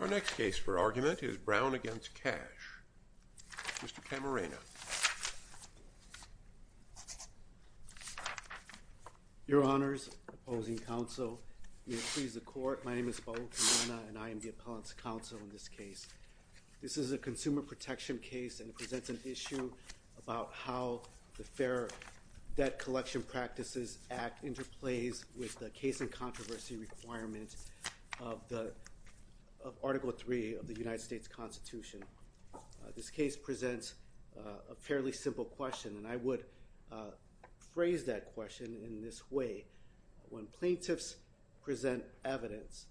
Our next case for argument is Brown v. Cach. Mr. Camarena. Your Honors, opposing counsel, may it please the Court, my name is Paolo Camarena and I am the appellant's counsel in this case. This is a consumer protection case and it presents an issue about how the Fair Debt Collection Practices Act interplays with the case and controversy requirement of Article 3 of the United States Constitution. This case presents a fairly simple question and I would phrase that question in this way. When plaintiffs present evidence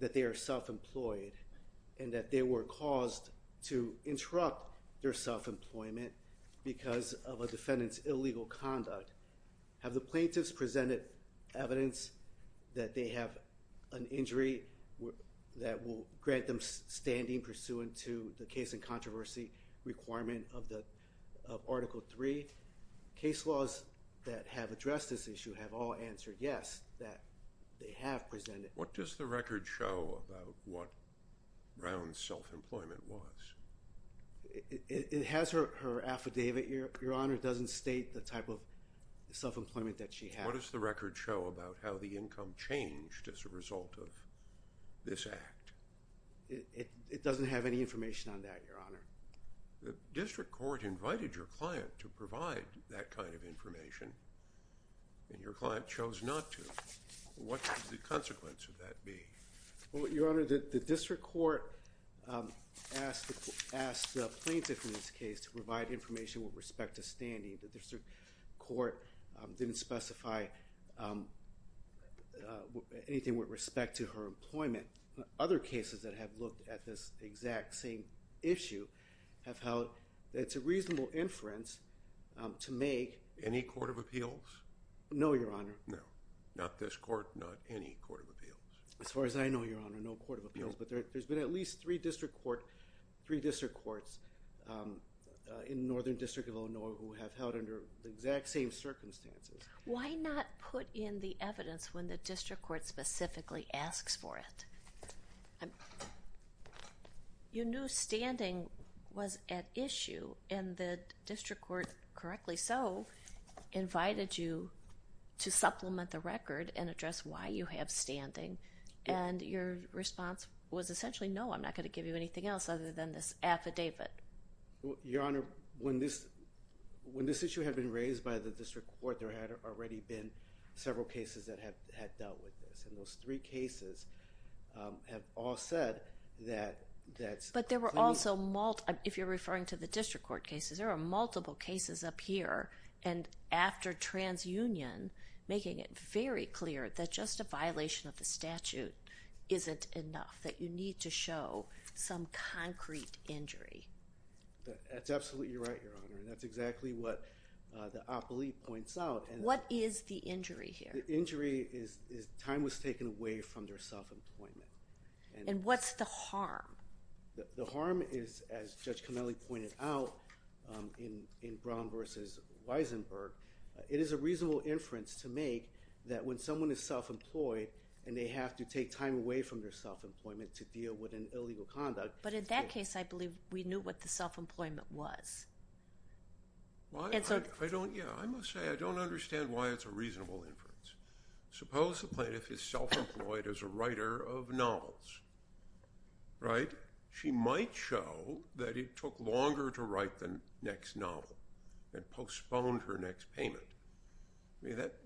that they are self-employed and that they were caused to interrupt their self-employment because of a defendant's illegal conduct, have the plaintiffs presented evidence that they have an injury that will grant them standing pursuant to the case and controversy requirement of Article 3? Case laws that have addressed this issue have all answered yes, that they have presented. What does the record show about what Brown's self-employment was? It has her affidavit. Your Honor, it doesn't state the type of self-employment that she had. What does the record show about how the income changed as a result of this act? It doesn't have any information on that, Your Honor. The district court invited your client to provide that kind of information and your client chose not to. What should the consequence of that be? Your Honor, the district court asked the plaintiff in this case to provide information with respect to standing. The district court didn't specify anything with respect to her employment. Other cases that have looked at this exact same issue have held that it's a reasonable inference to make. Any court of appeals? No, Your Honor. As far as I know, Your Honor, no court of appeals, but there's been at least three district courts in Northern District of Illinois who have held under the exact same circumstances. Why not put in the evidence when the district court specifically asks for it? You knew standing was at issue and the district court, correctly so, invited you to supplement the record and address why you have standing, and your response was essentially, no, I'm not going to give you anything else other than this affidavit. Your Honor, when this issue had been raised by the district court, there had already been several cases that had dealt with this, and those three cases have all said that that's... But there were also, if you're referring to the district court cases, there are multiple cases up here, and after transunion, making it very clear that just a violation of the statute isn't enough, that you need to show some concrete injury. That's absolutely right, Your Honor, and that's exactly what the op-elite points out. What is the injury here? The injury is time was taken away from their self-employment. And what's the harm? The harm is, as Judge Connelly pointed out in Brown v. Weisenberg, it is a reasonable inference to make that when someone is self-employed and they have to take time away from their self-employment to deal with an illegal conduct. But in that case, I believe we knew what the self-employment was. I must say I don't understand why it's a reasonable inference. Suppose the plaintiff is self-employed as a writer of novels, right? She might show that it took longer to write the next novel and postponed her next payment.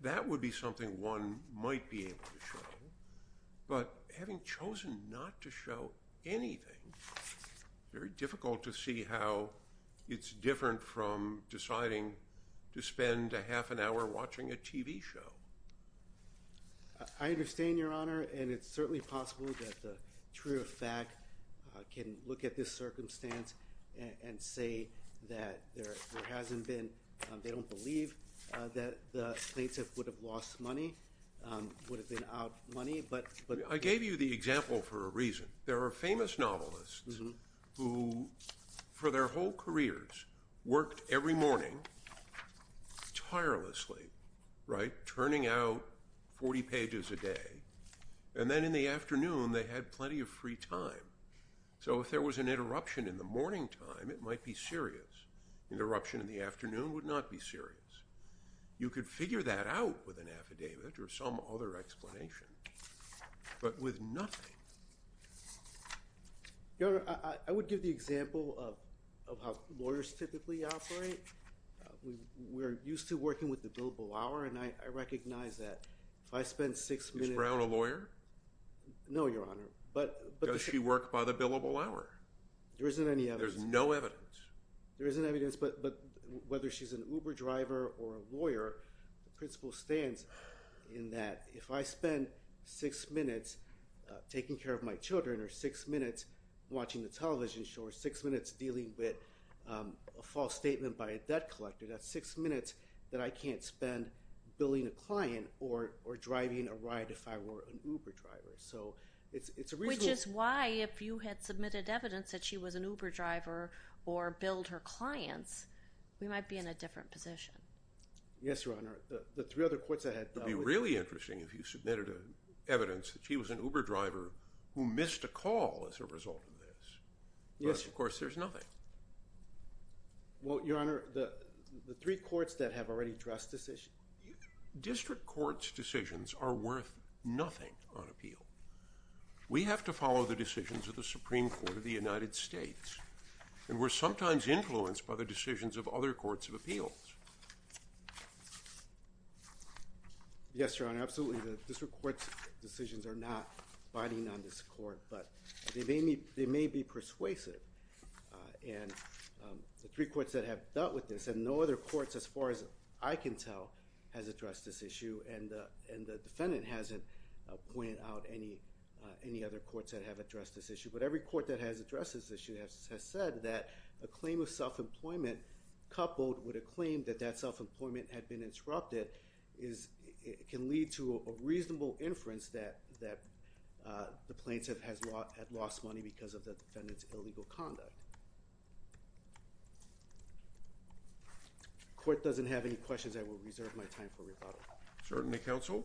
That would be something one might be able to show, but having chosen not to show anything, it's very difficult to see how it's different from deciding to spend a half an hour watching a TV show. I understand, Your Honor, and it's certainly possible that the truer of fact can look at this circumstance and say that there hasn't been, they don't believe that the plaintiff would have lost money, would have been out money. I gave you the example for a reason. There are famous novelists who, for their whole careers, worked every morning tirelessly, right, turning out 40 pages a day, and then in the afternoon they had plenty of free time. So if there was an interruption in the morning time, it might be serious. Interruption in the afternoon would not be serious. You could figure that out with an affidavit or some other explanation, but with nothing. Your Honor, I would give the example of how lawyers typically operate. We're used to working with the billable hour, and I recognize that if I spend six minutes— Is Brown a lawyer? No, Your Honor, but— Does she work by the billable hour? There isn't any evidence. There's no evidence. There isn't evidence, but whether she's an Uber driver or a lawyer, the principle stands in that if I spend six minutes taking care of my children or six minutes watching the television show or six minutes dealing with a false statement by a debt collector, that's six minutes that I can't spend billing a client or driving a ride if I were an Uber driver. So it's a reasonable— we might be in a different position. Yes, Your Honor. The three other courts I had— It would be really interesting if you submitted evidence that she was an Uber driver who missed a call as a result of this. Yes. But, of course, there's nothing. Well, Your Honor, the three courts that have already addressed this issue— District courts' decisions are worth nothing on appeal. We have to follow the decisions of the Supreme Court of the United States, and we're sometimes influenced by the decisions of other courts of appeals. Yes, Your Honor, absolutely. The district court's decisions are not binding on this court, but they may be persuasive. And the three courts that have dealt with this— and no other courts, as far as I can tell, has addressed this issue, and the defendant hasn't pointed out any other courts that have addressed this issue. But every court that has addressed this issue has said that a claim of self-employment coupled with a claim that that self-employment had been interrupted can lead to a reasonable inference that the plaintiff had lost money because of the defendant's illegal conduct. If the court doesn't have any questions, I will reserve my time for rebuttal. Certainty counsel.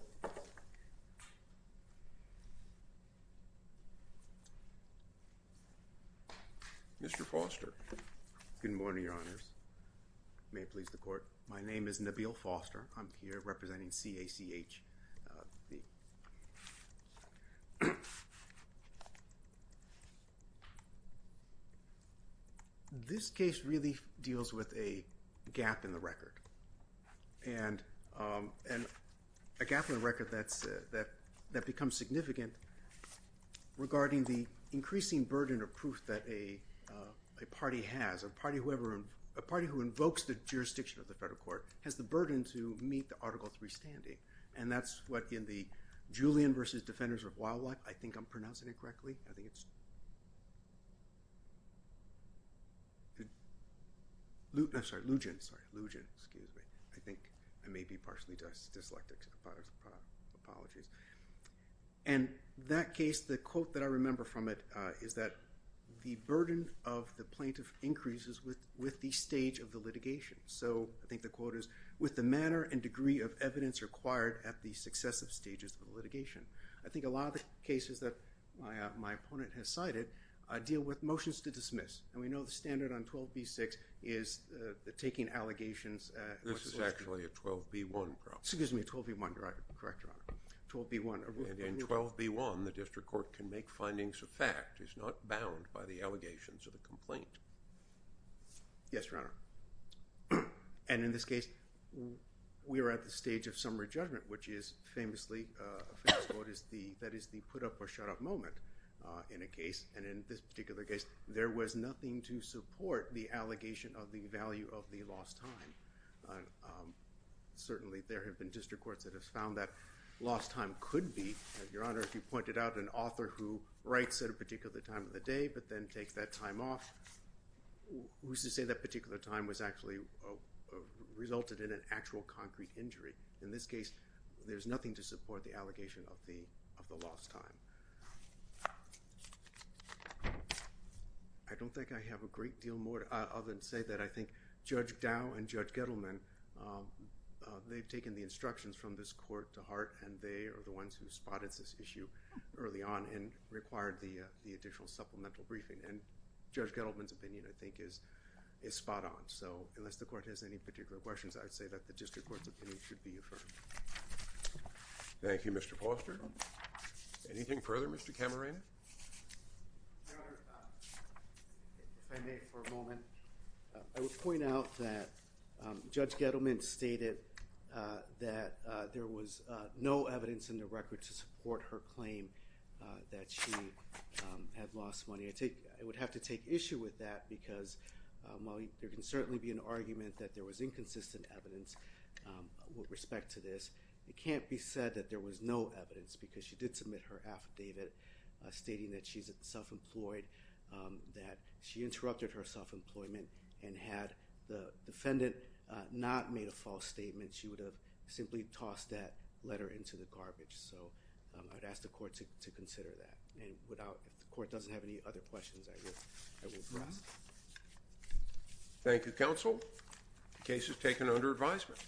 Mr. Foster. Good morning, Your Honors. May it please the Court. My name is Nabeel Foster. I'm here representing CACH. This case really deals with a gap in the record. And a gap in the record that becomes significant regarding the increasing burden of proof that a party has, a party who invokes the jurisdiction of the federal court, has the burden to meet the Article III standing. And that's what in the Julian v. Defenders of Wildlife— I think I'm pronouncing it correctly. I think it's Lugen. I think I may be partially dyslexic. Apologies. And that case, the quote that I remember from it is that the burden of the plaintiff increases with the stage of the litigation. So I think the quote is, with the manner and degree of evidence required at the successive stages of litigation. I think a lot of the cases that my opponent has cited deal with motions to dismiss. And we know the standard on 12b-6 is taking allegations— This is actually a 12b-1 problem. Excuse me, 12b-1. You're correct, Your Honor. 12b-1. And in 12b-1, the district court can make findings of fact. It's not bound by the allegations of the complaint. Yes, Your Honor. And in this case, we are at the stage of summary judgment, which is famously the put-up-or-shut-off moment in a case. And in this particular case, there was nothing to support the allegation of the value of the lost time. Certainly, there have been district courts that have found that lost time could be, Your Honor, if you pointed out an author who writes at a particular time of the day but then takes that time off, who's to say that particular time resulted in an actual concrete injury? In this case, there's nothing to support the allegation of the lost time. I don't think I have a great deal more other than to say that I think Judge Dow and Judge Gettleman, they've taken the instructions from this court to heart, and they are the ones who spotted this issue early on and required the additional supplemental briefing. And Judge Gettleman's opinion, I think, is spot-on. So unless the court has any particular questions, I'd say that the district court's opinion should be affirmed. Thank you, Mr. Polster. Anything further, Mr. Cameron? Your Honor, if I may for a moment, I would point out that Judge Gettleman stated that there was no evidence in the record to support her claim that she had lost money. I would have to take issue with that because while there can certainly be an argument that there was inconsistent evidence with respect to this, it can't be said that there was no evidence because she did submit her affidavit stating that she's self-employed, that she interrupted her self-employment, and had the defendant not made a false statement, she would have simply tossed that letter into the garbage. So I'd ask the court to consider that. And if the court doesn't have any other questions, I will address them. Thank you, counsel. The case is taken under advisement.